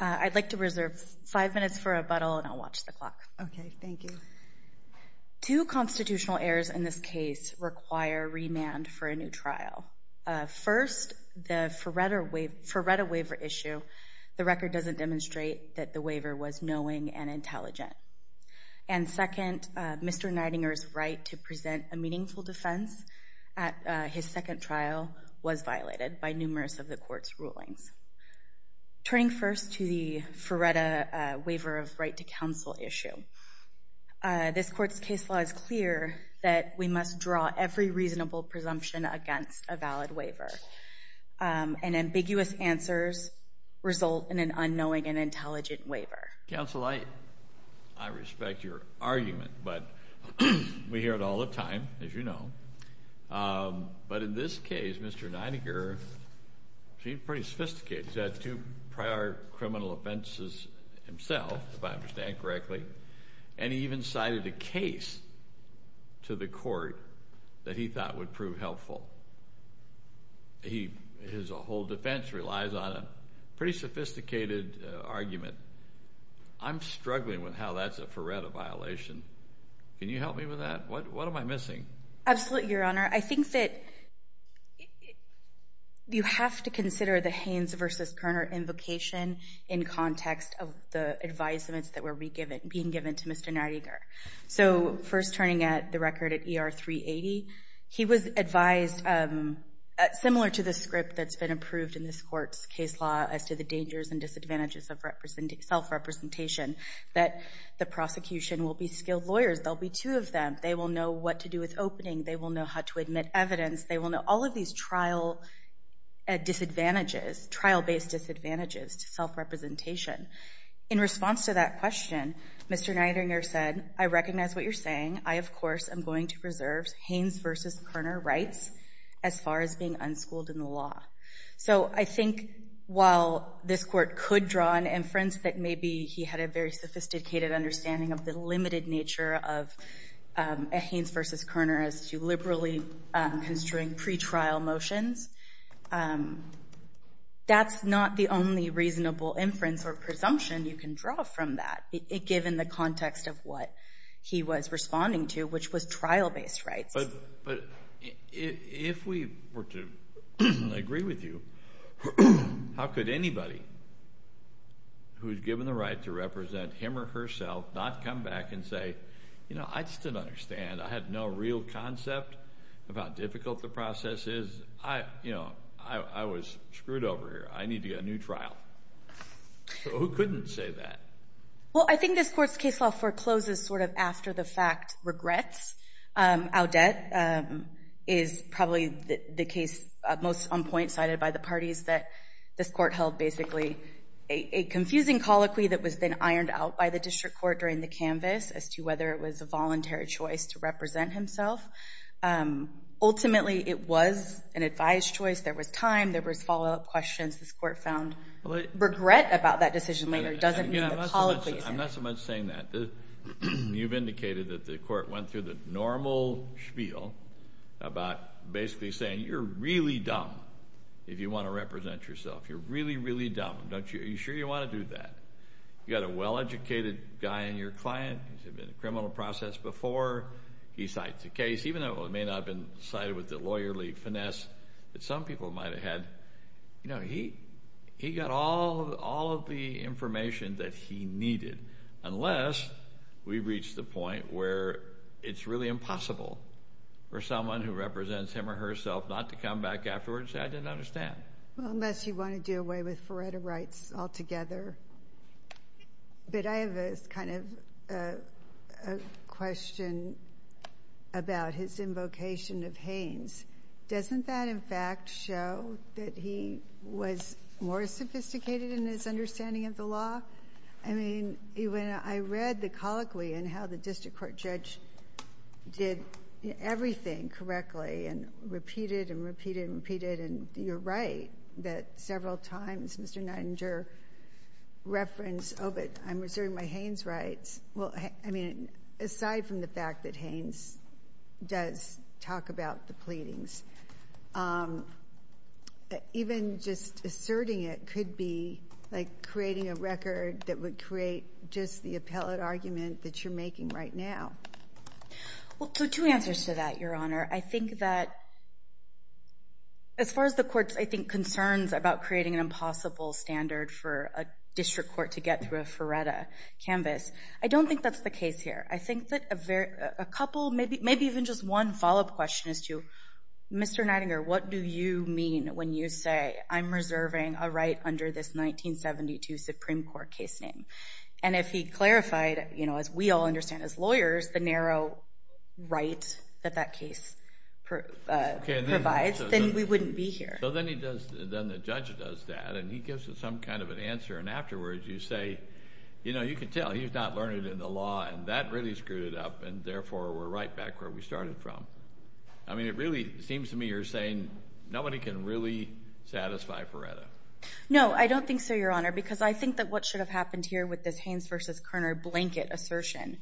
I'd like to reserve five minutes for rebuttal and I'll watch the clock. Okay, thank you. Two constitutional errors in this case require remand for a new trial. First, the Ferretta waiver issue. The record doesn't demonstrate that the waiver was knowing and intelligent. And second, Mr. Neidinger's right to present a meaningful defense at his second trial was violated by numerous of the court's rulings. Turning first to the Ferretta waiver of right to counsel issue, this court's case law is clear that we must draw every reasonable presumption against a valid waiver. And ambiguous answers result in an unknowing and intelligent waiver. Counsel, I respect your argument, but we hear it all the time, as you know. But in this case, Mr. Neidinger, he's pretty sophisticated. He's had two prior criminal offenses himself, if I understand correctly. And he even cited a case to the court that he thought would prove helpful. His whole defense relies on a pretty sophisticated argument. I'm struggling with how that's a Ferretta violation. Can you help me with that? What am I missing? Absolutely, Your Honor. I think that you have to consider the Haynes v. Kerner invocation in context of the advisements that were being given to Mr. Neidinger. So first turning at the record at ER 380, he was advised, similar to the script that's been approved in this court's case law as to the dangers and disadvantages of self-representation, that the prosecution will be skilled lawyers. There will be two of them. They will know what to do with opening. They will know how to admit evidence. They will know all of these trial disadvantages, trial-based disadvantages to self-representation. In response to that question, Mr. Neidinger said, I recognize what you're saying. I, of course, am going to preserve Haynes v. Kerner rights as far as being unschooled in the law. So I think while this court could draw an inference that maybe he had a very sophisticated understanding of the limited nature of a Haynes v. Kerner as to liberally construing pretrial motions, that's not the only reasonable inference or presumption you can draw from that, given the context of what he was responding to, which was trial-based rights. But if we were to agree with you, how could anybody who's given the right to represent him or herself not come back and say, you know, I just didn't understand. I had no real concept of how difficult the process is. You know, I was screwed over here. I need to get a new trial. So who couldn't say that? Well, I think this court's case law forecloses sort of after the fact regrets. Audet is probably the case most on point cited by the parties that this court held basically a confusing colloquy that was then ironed out by the district court during the canvas as to whether it was a voluntary choice to represent himself. Ultimately, it was an advised choice. There was time. There was follow-up questions. This court found regret about that decision later doesn't mean the colloquy is there. I'm not so much saying that. You've indicated that the court went through the normal spiel about basically saying you're really dumb if you want to represent yourself. You're really, really dumb. Are you sure you want to do that? You've got a well-educated guy in your client. He's been in the criminal process before. He cites a case, even though it may not have been cited with the lawyerly finesse that some people might have had. He got all of the information that he needed unless we reach the point where it's really impossible for someone who represents him or herself not to come back afterwards and say I didn't understand. Unless you want to do away with Faretta rights altogether. I have a question about his invocation of Haynes. Doesn't that, in fact, show that he was more sophisticated in his understanding of the law? I read the colloquy and how the district court judge did everything correctly and repeated and repeated and repeated. And you're right that several times Mr. Nettinger referenced, oh, but I'm reserving my Haynes rights. Well, I mean, aside from the fact that Haynes does talk about the pleadings, even just asserting it could be like creating a record that would create just the appellate argument that you're making right now. Well, there are two answers to that, Your Honor. I think that as far as the court's, I think, concerns about creating an impossible standard for a district court to get through a Faretta canvas, I don't think that's the case here. I think that a couple, maybe even just one follow-up question is to, Mr. Nettinger, what do you mean when you say I'm reserving a right under this 1972 Supreme Court case name? And if he clarified, you know, as we all understand as lawyers, the narrow right that that case provides, then we wouldn't be here. So then he does, then the judge does that and he gives us some kind of an answer and afterwards you say, you know, you can tell he's not learning in the law and that really screwed it up and therefore we're right back where we started from. I mean, it really seems to me you're saying nobody can really satisfy Faretta. No, I don't think so, Your Honor, because I think that what should have happened here with this Haynes v. Kerner blanket assertion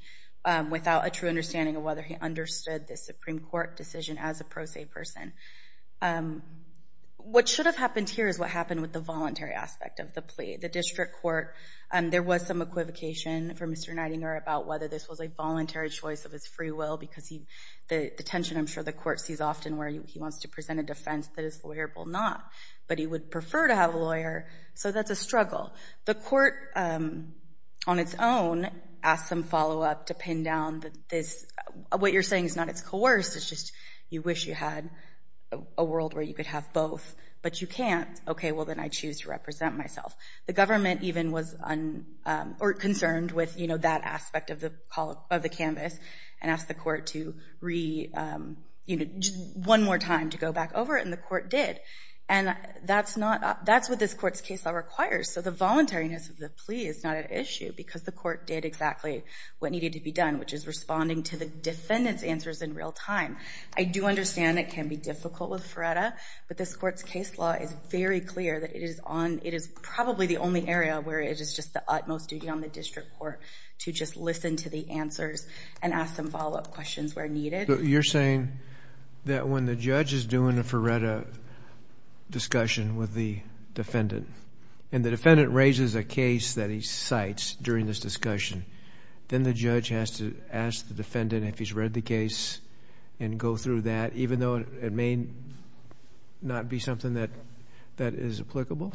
without a true understanding of whether he understood the Supreme Court decision as a pro se person. What should have happened here is what happened with the voluntary aspect of the plea. The district court, there was some equivocation from Mr. Nettinger about whether this was a voluntary choice of his free will because the tension, I'm sure, the court sees often where he wants to present a defense that is lawyerable or not, but he would prefer to have a lawyer, so that's a struggle. The court on its own asked some follow-up to pin down that this, what you're saying is not it's coerced, it's just you wish you had a world where you could have both, but you can't. Okay, well then I choose to represent myself. The government even was concerned with, you know, that aspect of the canvas and asked the court to, you know, one more time to go back over it and the court did and that's what this court's case law requires. So the voluntariness of the plea is not an issue because the court did exactly what needed to be done, which is responding to the defendant's answers in real time. I do understand it can be difficult with FRERETA, but this court's case law is very clear that it is on, it is probably the only area where it is just the utmost duty on the district court to just listen to the answers and ask some follow-up questions where needed. You're saying that when the judge is doing a FRERETA discussion with the defendant and the defendant raises a case that he cites during this discussion, then the judge has to ask the defendant if he's read the case and go through that, even though it may not be something that is applicable?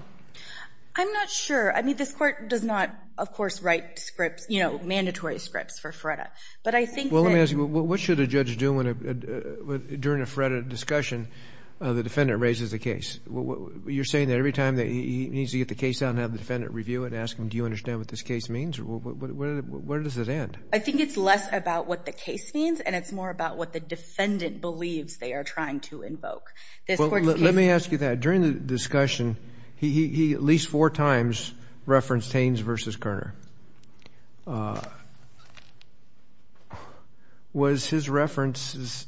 I'm not sure. I mean, this court does not, of course, write scripts, you know, mandatory scripts for FRERETA, but I think that... Well, let me ask you, what should a judge do during a FRERETA discussion when the defendant raises a case? You're saying that every time that he needs to get the case out and have the defendant review it and ask him, do you understand what this case means? What does it end? I think it's less about what the case means and it's more about what the defendant believes they are trying to invoke. This court's case... Well, let me ask you that. During the discussion, he at least four times referenced Taines v. Kerner. Was his reference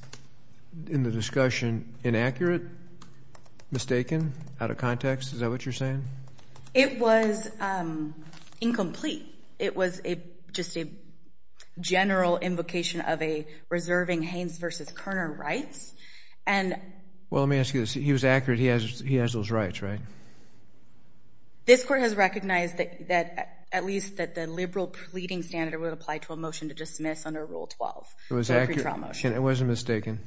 in the discussion inaccurate, mistaken, out of context? Is that what you're saying? It was incomplete. It was just a general invocation of a reserving Haines v. Kerner rights. And... Well, let me ask you this. He was accurate. He has those rights, right? This court has recognized that at least the liberal pleading standard would apply to a motion to dismiss under Rule 12, the pretrial motion. It was accurate. It wasn't mistaken,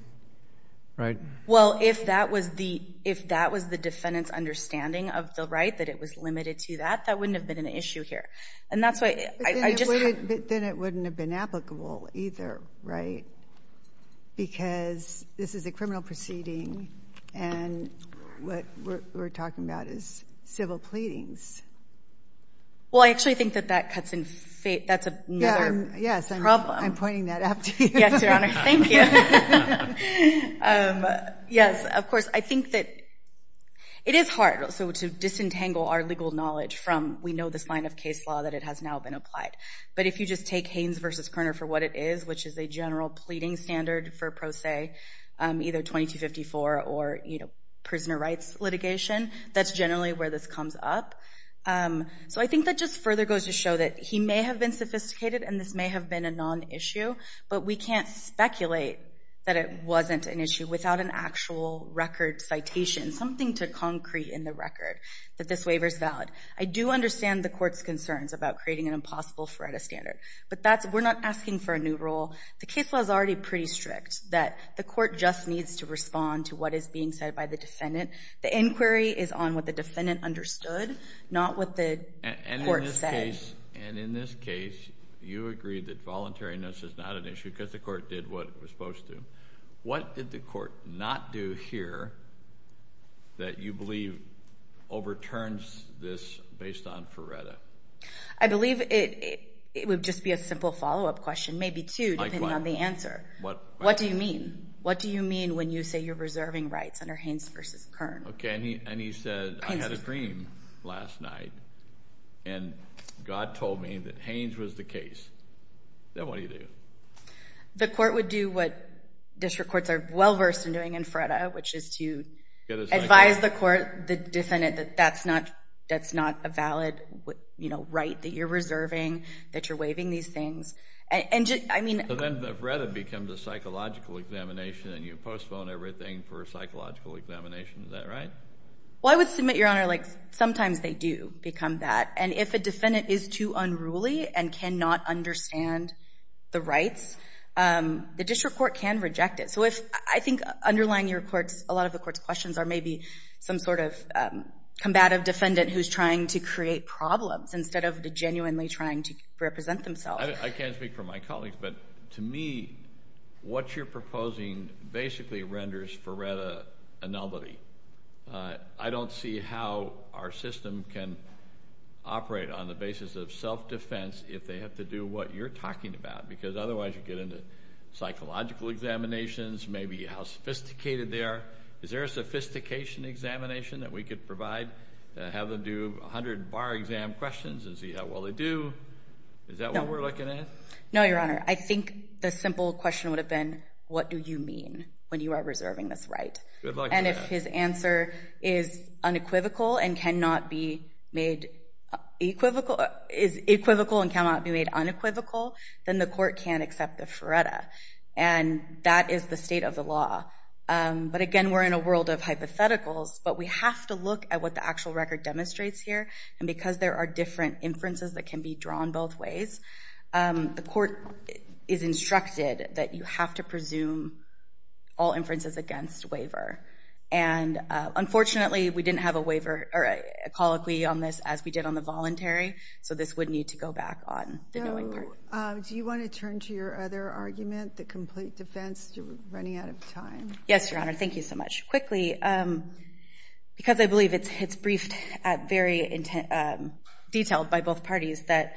right? Well, if that was the defendant's understanding of the right, that it was limited to that, that wouldn't have been an issue here. And that's why I just... Then it wouldn't have been applicable either, right? Because this is a criminal proceeding, and what we're talking about is civil pleadings. Well, I actually think that that cuts in... That's another problem. Yes, I'm pointing that out to you. Yes, Your Honor. Thank you. Yes, of course. I think that it is hard to disentangle our legal knowledge from we know this line of case law that it has now been applied. But if you just take Haines v. Kerner for what it is, which is a general pleading standard for Pro Se, either 2254 or prisoner rights litigation, that's generally where this comes up. So I think that just further goes to show that he may have been sophisticated and this may have been a non-issue, but we can't speculate that it wasn't an issue without an actual record citation, something to concrete in the record that this waiver is valid. I do understand the Court's concerns about creating an impossible FREDA standard, but we're not asking for a new rule. The case law is already pretty strict, that the Court just needs to respond to what is being said by the defendant. The inquiry is on what the defendant understood, not what the Court said. And in this case, you agree that voluntariness is not an issue because the Court did what it was supposed to. What did the Court not do here that you believe overturns this based on FREDA? I believe it would just be a simple follow-up question, maybe two, depending on the answer. What do you mean? What do you mean when you say you're reserving rights under Haynes v. Kern? And he said, I had a dream last night, and God told me that Haynes was the case. Then what do you do? The Court would do what district courts are well-versed in doing in FREDA, which is to advise the defendant that that's not a valid right that you're reserving, that you're waiving these things. So then the FREDA becomes a psychological examination, and you postpone everything for a psychological examination. Is that right? Well, I would submit, Your Honor, like sometimes they do become that. And if a defendant is too unruly and cannot understand the rights, the district court can reject it. So I think underlying a lot of the Court's questions are maybe some sort of combative defendant who's trying to create problems instead of genuinely trying to represent themselves. I can't speak for my colleagues, but to me what you're proposing basically renders FREDA a nullity. I don't see how our system can operate on the basis of self-defense if they have to do what you're talking about, because otherwise you get into psychological examinations, maybe how sophisticated they are. Is there a sophistication examination that we could provide and have them do 100 bar exam questions and see how well they do? Is that what we're looking at? No, Your Honor. I think the simple question would have been, what do you mean when you are reserving this right? And if his answer is unequivocal and cannot be made unequivocal, then the Court can't accept the FREDA. And that is the state of the law. But again, we're in a world of hypotheticals, but we have to look at what the actual record demonstrates here. And because there are different inferences that can be drawn both ways, the Court is instructed that you have to presume all inferences against waiver. And unfortunately we didn't have a waiver or a colloquy on this as we did on the voluntary, so this would need to go back on the going part. Do you want to turn to your other argument, the complete defense? You're running out of time. Yes, Your Honor. Thank you so much. Quickly, because I believe it's briefed at very detail by both parties, that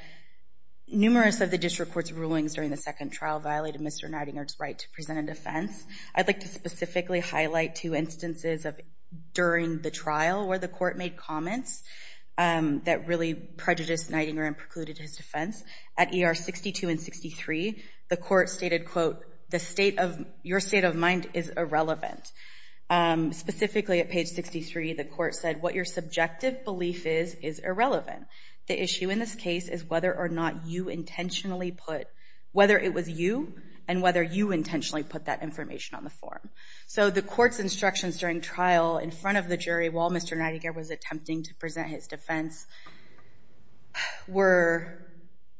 numerous of the district court's rulings during the second trial violated Mr. Nidinger's right to present a defense. I'd like to specifically highlight two instances during the trial where the Court made comments that really prejudiced Nidinger and precluded his defense. At ER 62 and 63, the Court stated, quote, your state of mind is irrelevant. Specifically at page 63, the Court said, what your subjective belief is is irrelevant. The issue in this case is whether or not you intentionally put, whether it was you, and whether you intentionally put that information on the form. So the Court's instructions during trial in front of the jury while Mr. Nidinger was attempting to present his defense were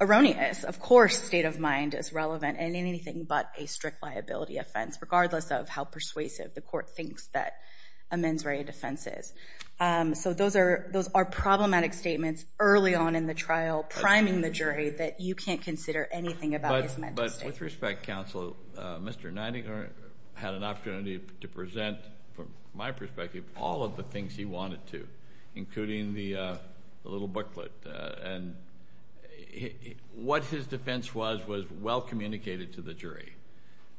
erroneous. Of course state of mind is relevant in anything but a strict liability offense, regardless of how persuasive the Court thinks that a mens rea defense is. So those are problematic statements early on in the trial, priming the jury that you can't consider anything about his mental state. But with respect, Counsel, Mr. Nidinger had an opportunity to present, from my perspective, all of the things he wanted to, including the little booklet. And what his defense was was well communicated to the jury.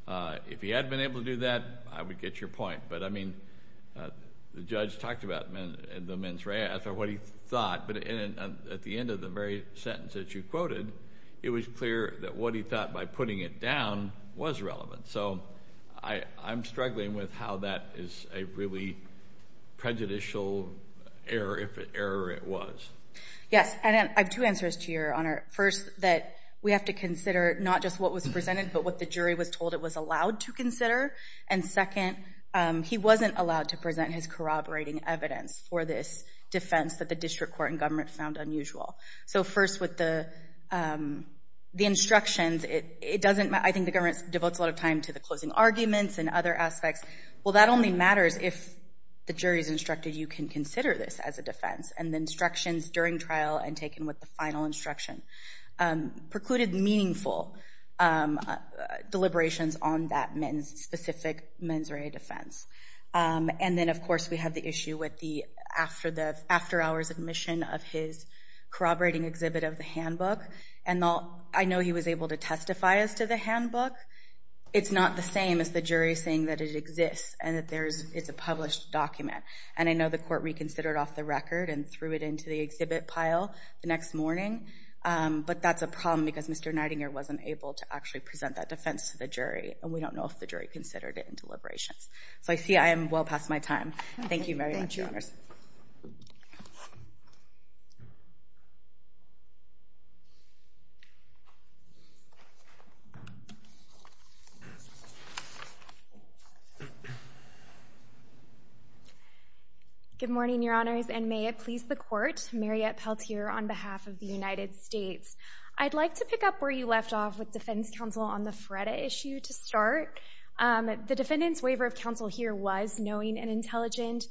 If he had been able to do that, I would get your point. But, I mean, the judge talked about the mens rea, as to what he thought. But at the end of the very sentence that you quoted, it was clear that what he thought by putting it down was relevant. So I'm struggling with how that is a really prejudicial error, if an error it was. Yes, and I have two answers to your honor. First, that we have to consider not just what was presented, but what the jury was told it was allowed to consider. And second, he wasn't allowed to present his corroborating evidence for this defense that the District Court and government found unusual. So first, with the instructions, it doesn't matter. I think the government devotes a lot of time to the closing arguments and other aspects. Well, that only matters if the jury is instructed you can consider this as a defense. And the instructions during trial and taken with the final instruction precluded meaningful deliberations on that specific mens rea defense. And then, of course, we have the issue with the after hours admission of his corroborating exhibit of the handbook. And I know he was able to testify as to the handbook. It's not the same as the jury saying that it exists and that it's a published document. And I know the court reconsidered off the record and threw it into the exhibit pile the next morning. But that's a problem because Mr. Nightingale wasn't able to actually present that defense to the jury. And we don't know if the jury considered it in deliberations. So I see I am well past my time. Thank you very much, Your Honors. Good morning, Your Honors, and may it please the court. Mariette Peltier on behalf of the United States. I'd like to pick up where you left off with defense counsel on the FREDA issue to start. The defendant's waiver of counsel here was knowing and intelligent.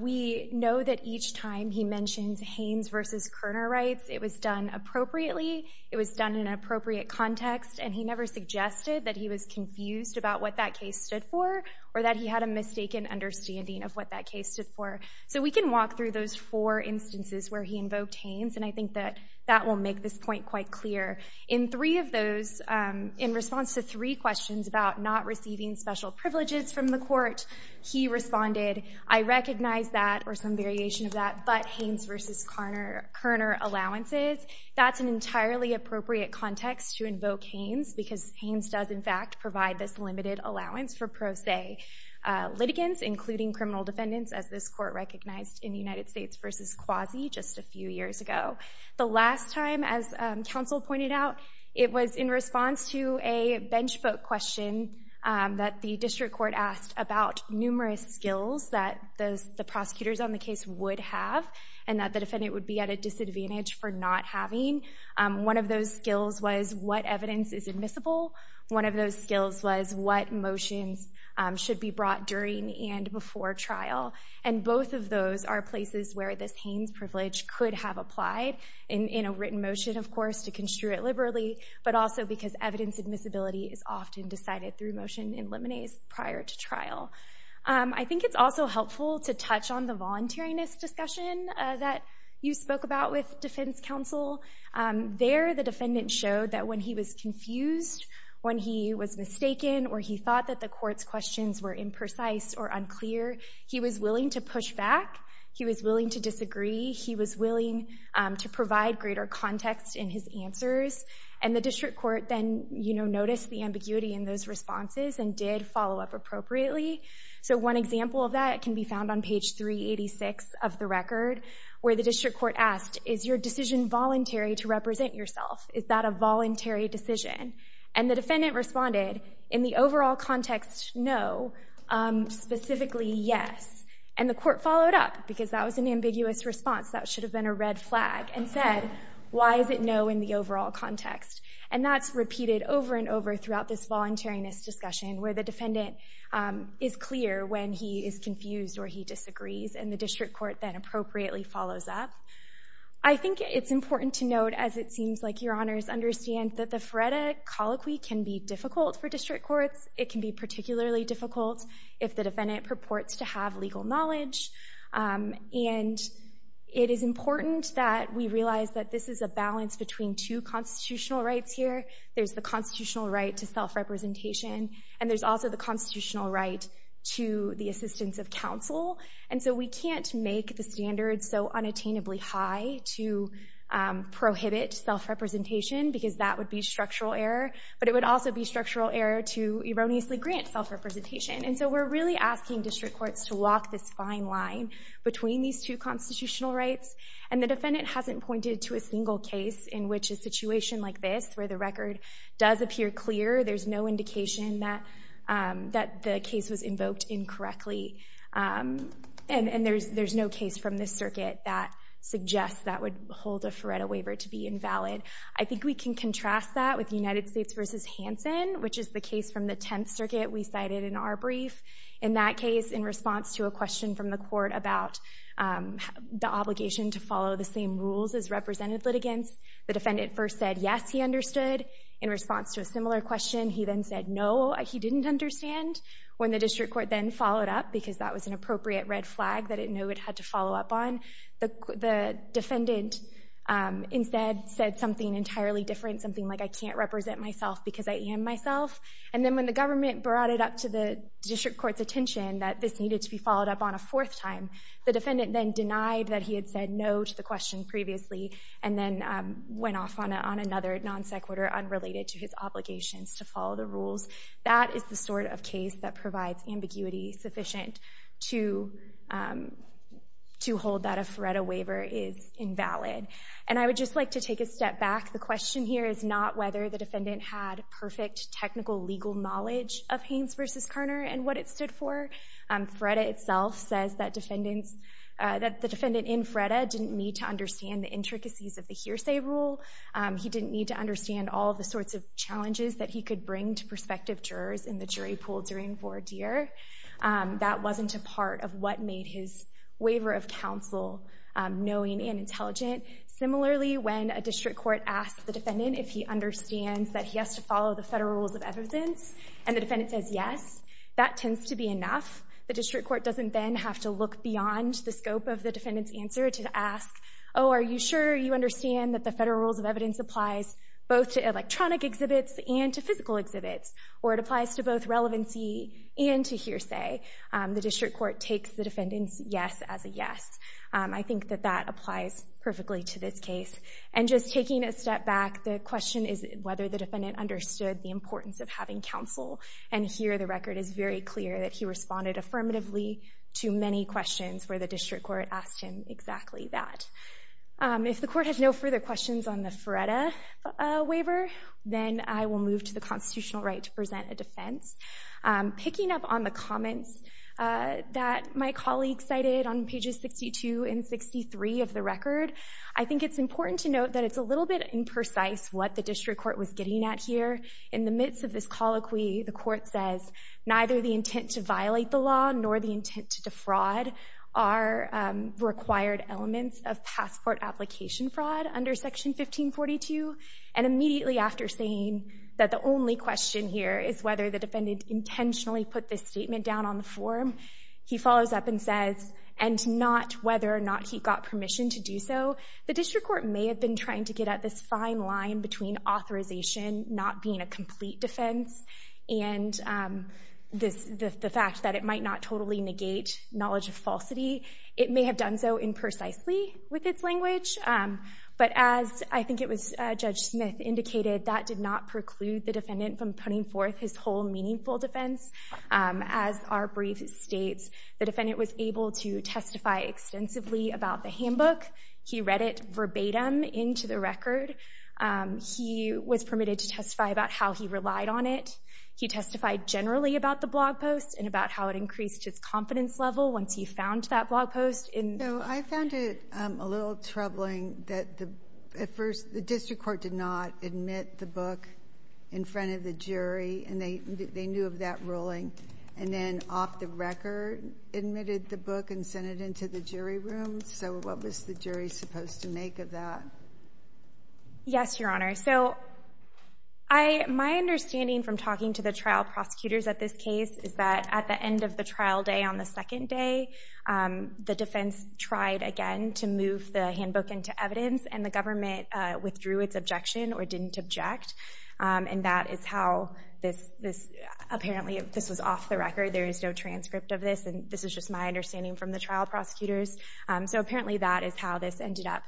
We know that each time he mentions Haynes versus Kerner rights, it was done appropriately. It was done in an appropriate context. And he never suggested that he was confused about what that case stood for or that he had a mistaken understanding of what that case stood for. So we can walk through those four instances where he invoked Haynes. And I think that that will make this point quite clear. In three of those, in response to three questions about not receiving special privileges from the court, he responded, I recognize that, or some variation of that, but Haynes versus Kerner allowances. That's an entirely appropriate context to invoke Haynes because Haynes does, in fact, provide this limited allowance for pro se litigants, including criminal defendants, as this court recognized in the United States versus Quasi just a few years ago. The last time, as counsel pointed out, it was in response to a bench book question that the district court asked about numerous skills that the prosecutors on the case would have and that the defendant would be at a disadvantage for not having. One of those skills was what evidence is admissible. One of those skills was what motions should be brought during and before trial. And both of those are places where this Haynes privilege could have applied, in a written motion, of course, to construe it liberally, but also because evidence admissibility is often decided through motion in limines prior to trial. I think it's also helpful to touch on the voluntariness discussion that you spoke about with defense counsel. There, the defendant showed that when he was confused, when he was mistaken, or he thought that the court's questions were imprecise or unclear, he was willing to push back. He was willing to disagree. He was willing to provide greater context in his answers. And the district court then, you know, noticed the ambiguity in those responses and did follow up appropriately. So one example of that can be found on page 386 of the record, where the district court asked, is your decision voluntary to represent yourself? Is that a voluntary decision? And the defendant responded, in the overall context, no. Specifically, yes. And the court followed up, because that was an ambiguous response. That should have been a red flag, and said, why is it no in the overall context? And that's repeated over and over throughout this voluntariness discussion, where the defendant is clear when he is confused or he disagrees, and the district court then appropriately follows up. I think it's important to note, as it seems like your honors understand, that the FREDA colloquy can be difficult for district courts. It can be particularly difficult if the defendant purports to have legal knowledge. And it is important that we realize that this is a balance between two constitutional rights here. There's the constitutional right to self-representation, and there's also the constitutional right to the assistance of counsel. And so we can't make the standards so unattainably high to prohibit self-representation, because that would be structural error. But it would also be structural error to erroneously grant self-representation. And so we're really asking district courts to walk this fine line between these two constitutional rights. And the defendant hasn't pointed to a single case in which a situation like this, where the record does appear clear, there's no indication that the case was invoked incorrectly. And there's no case from this circuit that suggests that would hold a FREDA waiver to be invalid. I think we can contrast that with United States v. Hansen, which is the case from the Tenth Circuit we cited in our brief. In that case, in response to a question from the court about the obligation to follow the same rules as represented litigants, the defendant first said, yes, he understood. In response to a similar question, he then said, no, he didn't understand. When the district court then followed up, because that was an appropriate red flag that it knew it had to follow up on, the defendant instead said something entirely different, something like, I can't represent myself because I am myself. And then when the government brought it up to the district court's attention that this needed to be followed up on a fourth time, the defendant then denied that he had said no to the question previously and then went off on another non sequitur unrelated to his obligations to follow the rules. That is the sort of case that provides ambiguity sufficient to hold that a FREDA waiver is invalid. And I would just like to take a step back. The question here is not whether the defendant had perfect technical legal knowledge of Haynes v. Karner and what it stood for. FREDA itself says that the defendant in FREDA didn't need to understand the intricacies of the hearsay rule. He didn't need to understand all of the sorts of challenges that he could bring to prospective jurors in the jury pool during voir dire. That wasn't a part of what made his waiver of counsel knowing and intelligent. Similarly, when a district court asks the defendant if he understands that he has to follow the federal rules of evidence and the defendant says yes, that tends to be enough. The district court doesn't then have to look beyond the scope of the defendant's answer to ask, oh, are you sure you understand that the federal rules of evidence applies both to electronic exhibits and to physical exhibits, or it applies to both relevancy and to hearsay. The district court takes the defendant's yes as a yes. I think that that applies perfectly to this case. And just taking a step back, the question is whether the defendant understood the importance of having counsel, and here the record is very clear that he responded affirmatively to many questions where the district court asked him exactly that. If the court has no further questions on the Feretta waiver, then I will move to the constitutional right to present a defense. Picking up on the comments that my colleague cited on pages 62 and 63 of the record, I think it's important to note that it's a little bit imprecise what the district court was getting at here. In the midst of this colloquy, the court says, neither the intent to violate the law nor the intent to defraud are required elements of passport application fraud under Section 1542. And immediately after saying that the only question here is whether the defendant intentionally put this statement down on the form, he follows up and says, and not whether or not he got permission to do so. The district court may have been trying to get at this fine line between authorization not being a complete defense and the fact that it might not totally negate knowledge of falsity. It may have done so imprecisely with its language. But as I think it was Judge Smith indicated, that did not preclude the defendant from putting forth his whole meaningful defense. As our brief states, the defendant was able to testify extensively about the handbook. He read it verbatim into the record. He was permitted to testify about how he relied on it. He testified generally about the blog post and about how it increased his confidence level once he found that blog post. So I found it a little troubling that at first the district court did not admit the book in front of the jury. And they knew of that ruling. And then off the record admitted the book and sent it into the jury room. So what was the jury supposed to make of that? Yes, Your Honor. So my understanding from talking to the trial prosecutors at this case is that at the end of the trial day on the second day, the defense tried again to move the handbook into evidence. And the government withdrew its objection or didn't object. And that is how this apparently was off the record. There is no transcript of this. And this is just my understanding from the trial prosecutors. So apparently that is how this ended up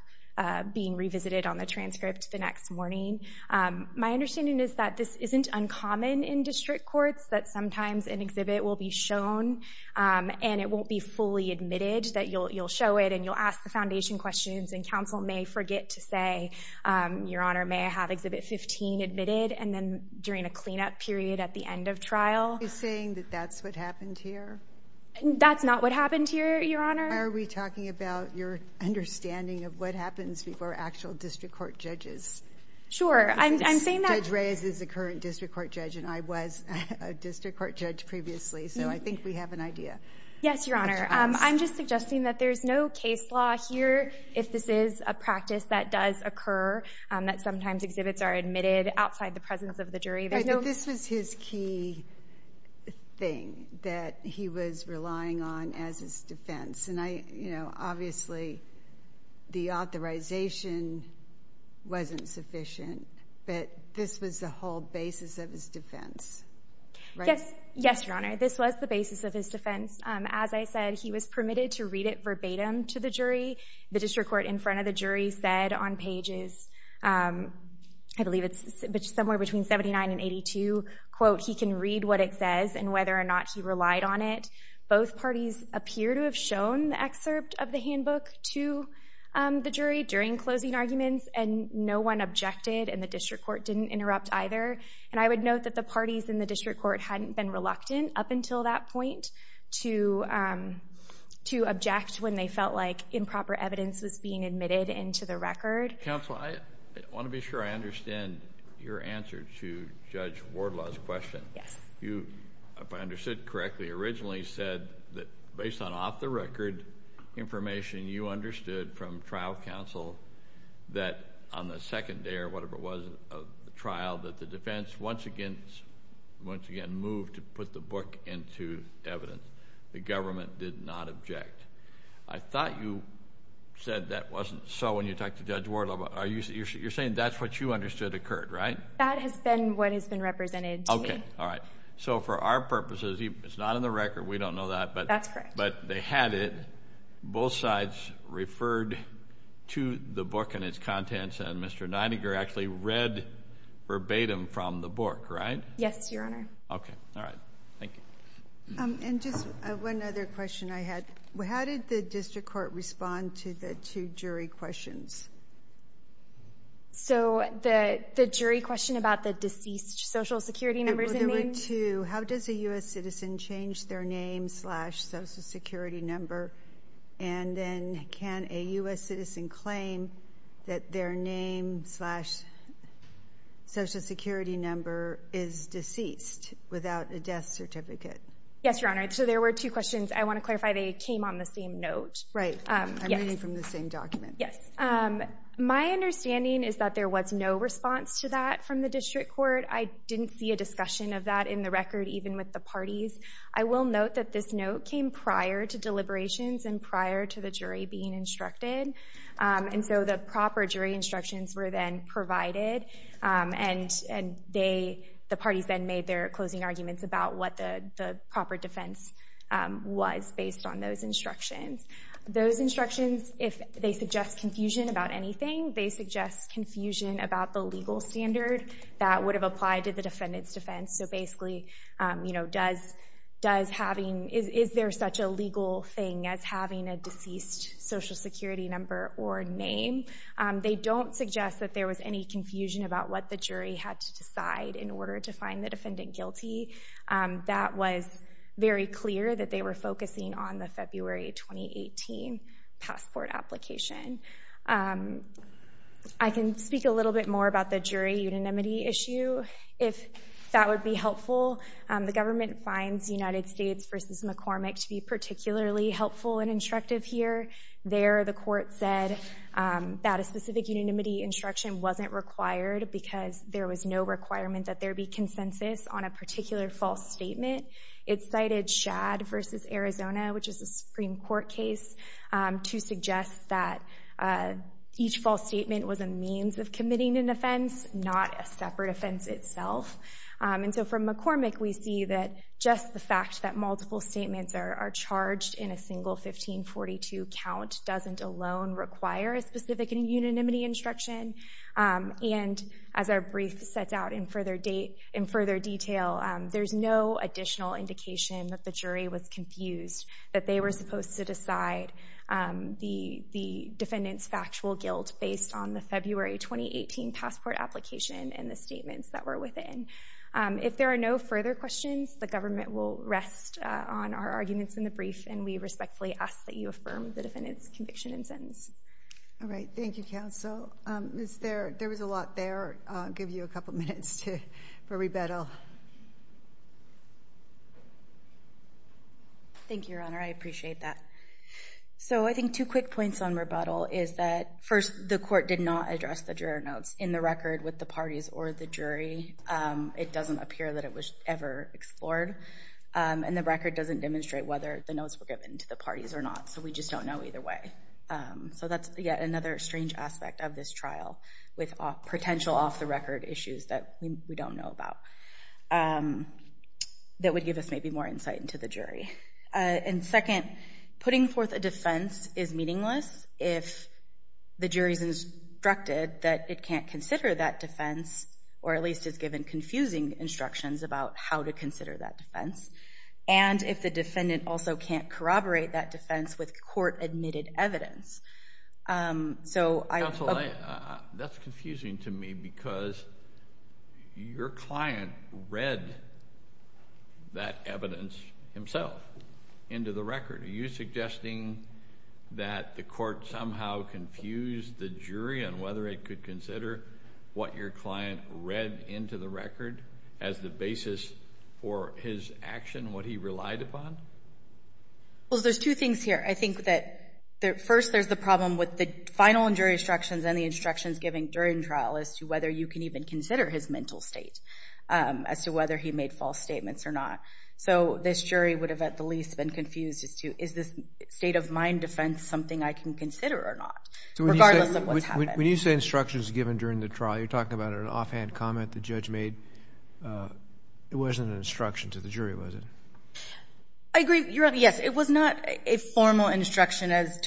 being revisited on the transcript the next morning. My understanding is that this isn't uncommon in district courts, that sometimes an exhibit will be shown and it won't be fully admitted, that you'll show it and you'll ask the foundation questions and counsel may forget to say, Your Honor, may I have exhibit 15 admitted? And then during a cleanup period at the end of trial. Are you saying that that's what happened here? That's not what happened here, Your Honor. Why are we talking about your understanding of what happens before actual district court judges? Sure, I'm saying that. Judge Reyes is a current district court judge and I was a district court judge previously, so I think we have an idea. Yes, Your Honor. I'm just suggesting that there's no case law here if this is a practice that does occur, that sometimes exhibits are admitted outside the presence of the jury. But this was his key thing that he was relying on as his defense, and obviously the authorization wasn't sufficient, but this was the whole basis of his defense, right? Yes, Your Honor. This was the basis of his defense. As I said, he was permitted to read it verbatim to the jury. The district court in front of the jury said on pages, I believe it's somewhere between 79 and 82, quote, he can read what it says and whether or not he relied on it. Both parties appear to have shown the excerpt of the handbook to the jury during closing arguments and no one objected and the district court didn't interrupt either. And I would note that the parties in the district court hadn't been reluctant up until that point to object when they felt like improper evidence was being admitted into the record. Counsel, I want to be sure I understand your answer to Judge Wardlaw's question. Yes. You, if I understood correctly, originally said that based on off-the-record information you understood from trial counsel that on the second day or whatever it was of the trial that the defense once again moved to put the book into evidence. The government did not object. I thought you said that wasn't so when you talked to Judge Wardlaw. You're saying that's what you understood occurred, right? That has been what has been represented to me. Okay, all right. So for our purposes, it's not in the record. We don't know that. That's correct. But they had it. Both sides referred to the book and its contents and Mr. Neidiger actually read verbatim from the book, right? Yes, Your Honor. Okay, all right. Thank you. And just one other question I had. How did the district court respond to the two jury questions? So the jury question about the deceased social security number is the name? There were two. How does a U.S. citizen change their name slash social security number? And then can a U.S. citizen claim that their name slash social security number is deceased without a death certificate? Yes, Your Honor. So there were two questions. I want to clarify they came on the same note. Right. I'm reading from the same document. Yes. My understanding is that there was no response to that from the district court. I didn't see a discussion of that in the record even with the parties. I will note that this note came prior to deliberations and prior to the jury being instructed. And so the proper jury instructions were then provided, and the parties then made their closing arguments about what the proper defense was based on those instructions. Those instructions, if they suggest confusion about anything, they suggest confusion about the legal standard that would have applied to the defendant's defense. So basically, is there such a legal thing as having a deceased social security number or name? They don't suggest that there was any confusion about what the jury had to decide in order to find the defendant guilty. That was very clear that they were focusing on the February 2018 passport application. I can speak a little bit more about the jury unanimity issue if that would be helpful. The government finds United States v. McCormick to be particularly helpful and instructive here. There, the court said that a specific unanimity instruction wasn't required because there was no requirement that there be consensus on a particular false statement. It cited Schad v. Arizona, which is a Supreme Court case, to suggest that each false statement was a means of committing an offense, not a separate offense itself. And so from McCormick, we see that just the fact that multiple statements are charged in a single 1542 count doesn't alone require a specific unanimity instruction. And as our brief sets out in further detail, there's no additional indication that the jury was confused, that they were supposed to decide the defendant's factual guilt based on the February 2018 passport application and the statements that were within. If there are no further questions, the government will rest on our arguments in the brief, and we respectfully ask that you affirm the defendant's conviction and sentence. All right. Thank you, counsel. There was a lot there. I'll give you a couple minutes for rebuttal. Thank you, Your Honor. I appreciate that. So I think two quick points on rebuttal is that, first, the court did not address the juror notes in the record with the parties or the jury. It doesn't appear that it was ever explored. And the record doesn't demonstrate whether the notes were given to the parties or not, so we just don't know either way. So that's yet another strange aspect of this trial with potential off-the-record issues that we don't know about that would give us maybe more insight into the jury. And second, putting forth a defense is meaningless if the jury's instructed that it can't consider that defense or at least is given confusing instructions about how to consider that defense, and if the defendant also can't corroborate that defense with court-admitted evidence. Counsel, that's confusing to me because your client read that evidence himself into the record. Are you suggesting that the court somehow confused the jury on whether it could consider what your client read into the record as the basis for his action, what he relied upon? Well, there's two things here. I think that first there's the problem with the final and jury instructions and the instructions given during trial as to whether you can even consider his mental state as to whether he made false statements or not. So this jury would have at the least been confused as to is this state-of-mind defense something I can consider or not, regardless of what's happened. When you say instructions given during the trial, you're talking about an offhand comment the judge made. It wasn't an instruction to the jury, was it? I agree. Yes, it was not a formal instruction as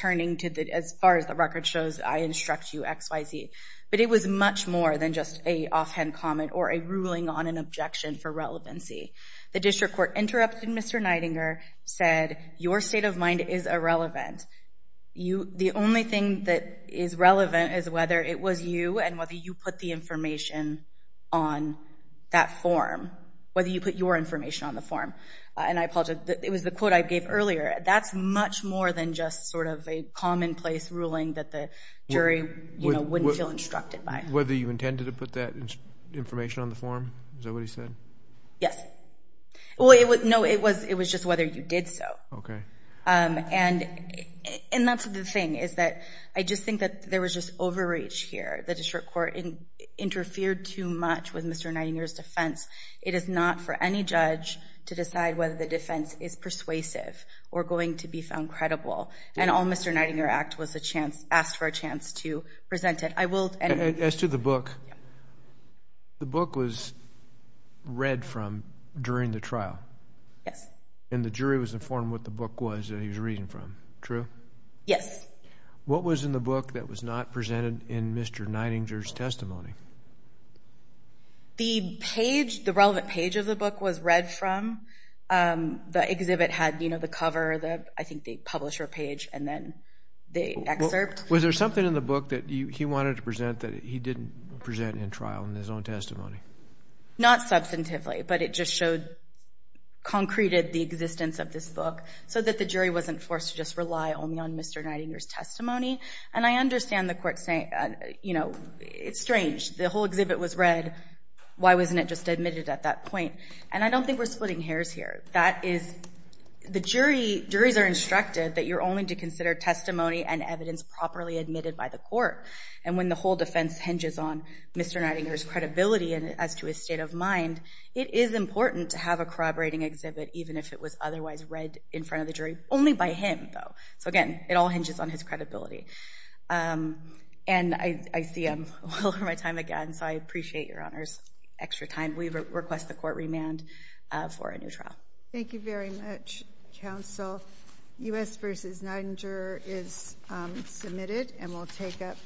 far as the record shows. I instruct you X, Y, Z. But it was much more than just an offhand comment or a ruling on an objection for relevancy. The district court interrupted Mr. Nidinger, said, your state of mind is irrelevant. The only thing that is relevant is whether it was you and whether you put the information on that form, whether you put your information on the form. And I apologize, it was the quote I gave earlier. That's much more than just sort of a commonplace ruling that the jury wouldn't feel instructed by. Whether you intended to put that information on the form? Is that what he said? Yes. No, it was just whether you did so. Okay. And that's the thing is that I just think that there was just overreach here. The district court interfered too much with Mr. Nidinger's defense. It is not for any judge to decide whether the defense is persuasive or going to be found credible. And all Mr. Nidinger asked for a chance to present it. As to the book, the book was read from during the trial. Yes. And the jury was informed what the book was that he was reading from. True? Yes. What was in the book that was not presented in Mr. Nidinger's testimony? The page, the relevant page of the book was read from. The exhibit had the cover, I think the publisher page, and then the excerpt. Was there something in the book that he wanted to present that he didn't present in trial in his own testimony? Not substantively, but it just showed, concreted the existence of this book so that the jury wasn't forced to just rely only on Mr. Nidinger's testimony. And I understand the court saying, you know, it's strange. The whole exhibit was read. Why wasn't it just admitted at that point? And I don't think we're splitting hairs here. That is the jury, juries are instructed that you're only to consider testimony and evidence properly admitted by the court. And when the whole defense hinges on Mr. Nidinger's credibility as to his state of mind, it is important to have a corroborating exhibit even if it was otherwise read in front of the jury, only by him, though. So, again, it all hinges on his credibility. And I see I'm well over my time again, so I appreciate your Honor's extra time. We request the court remand for a new trial. Thank you very much, counsel. U.S. v. Nidinger is submitted, and we'll take it.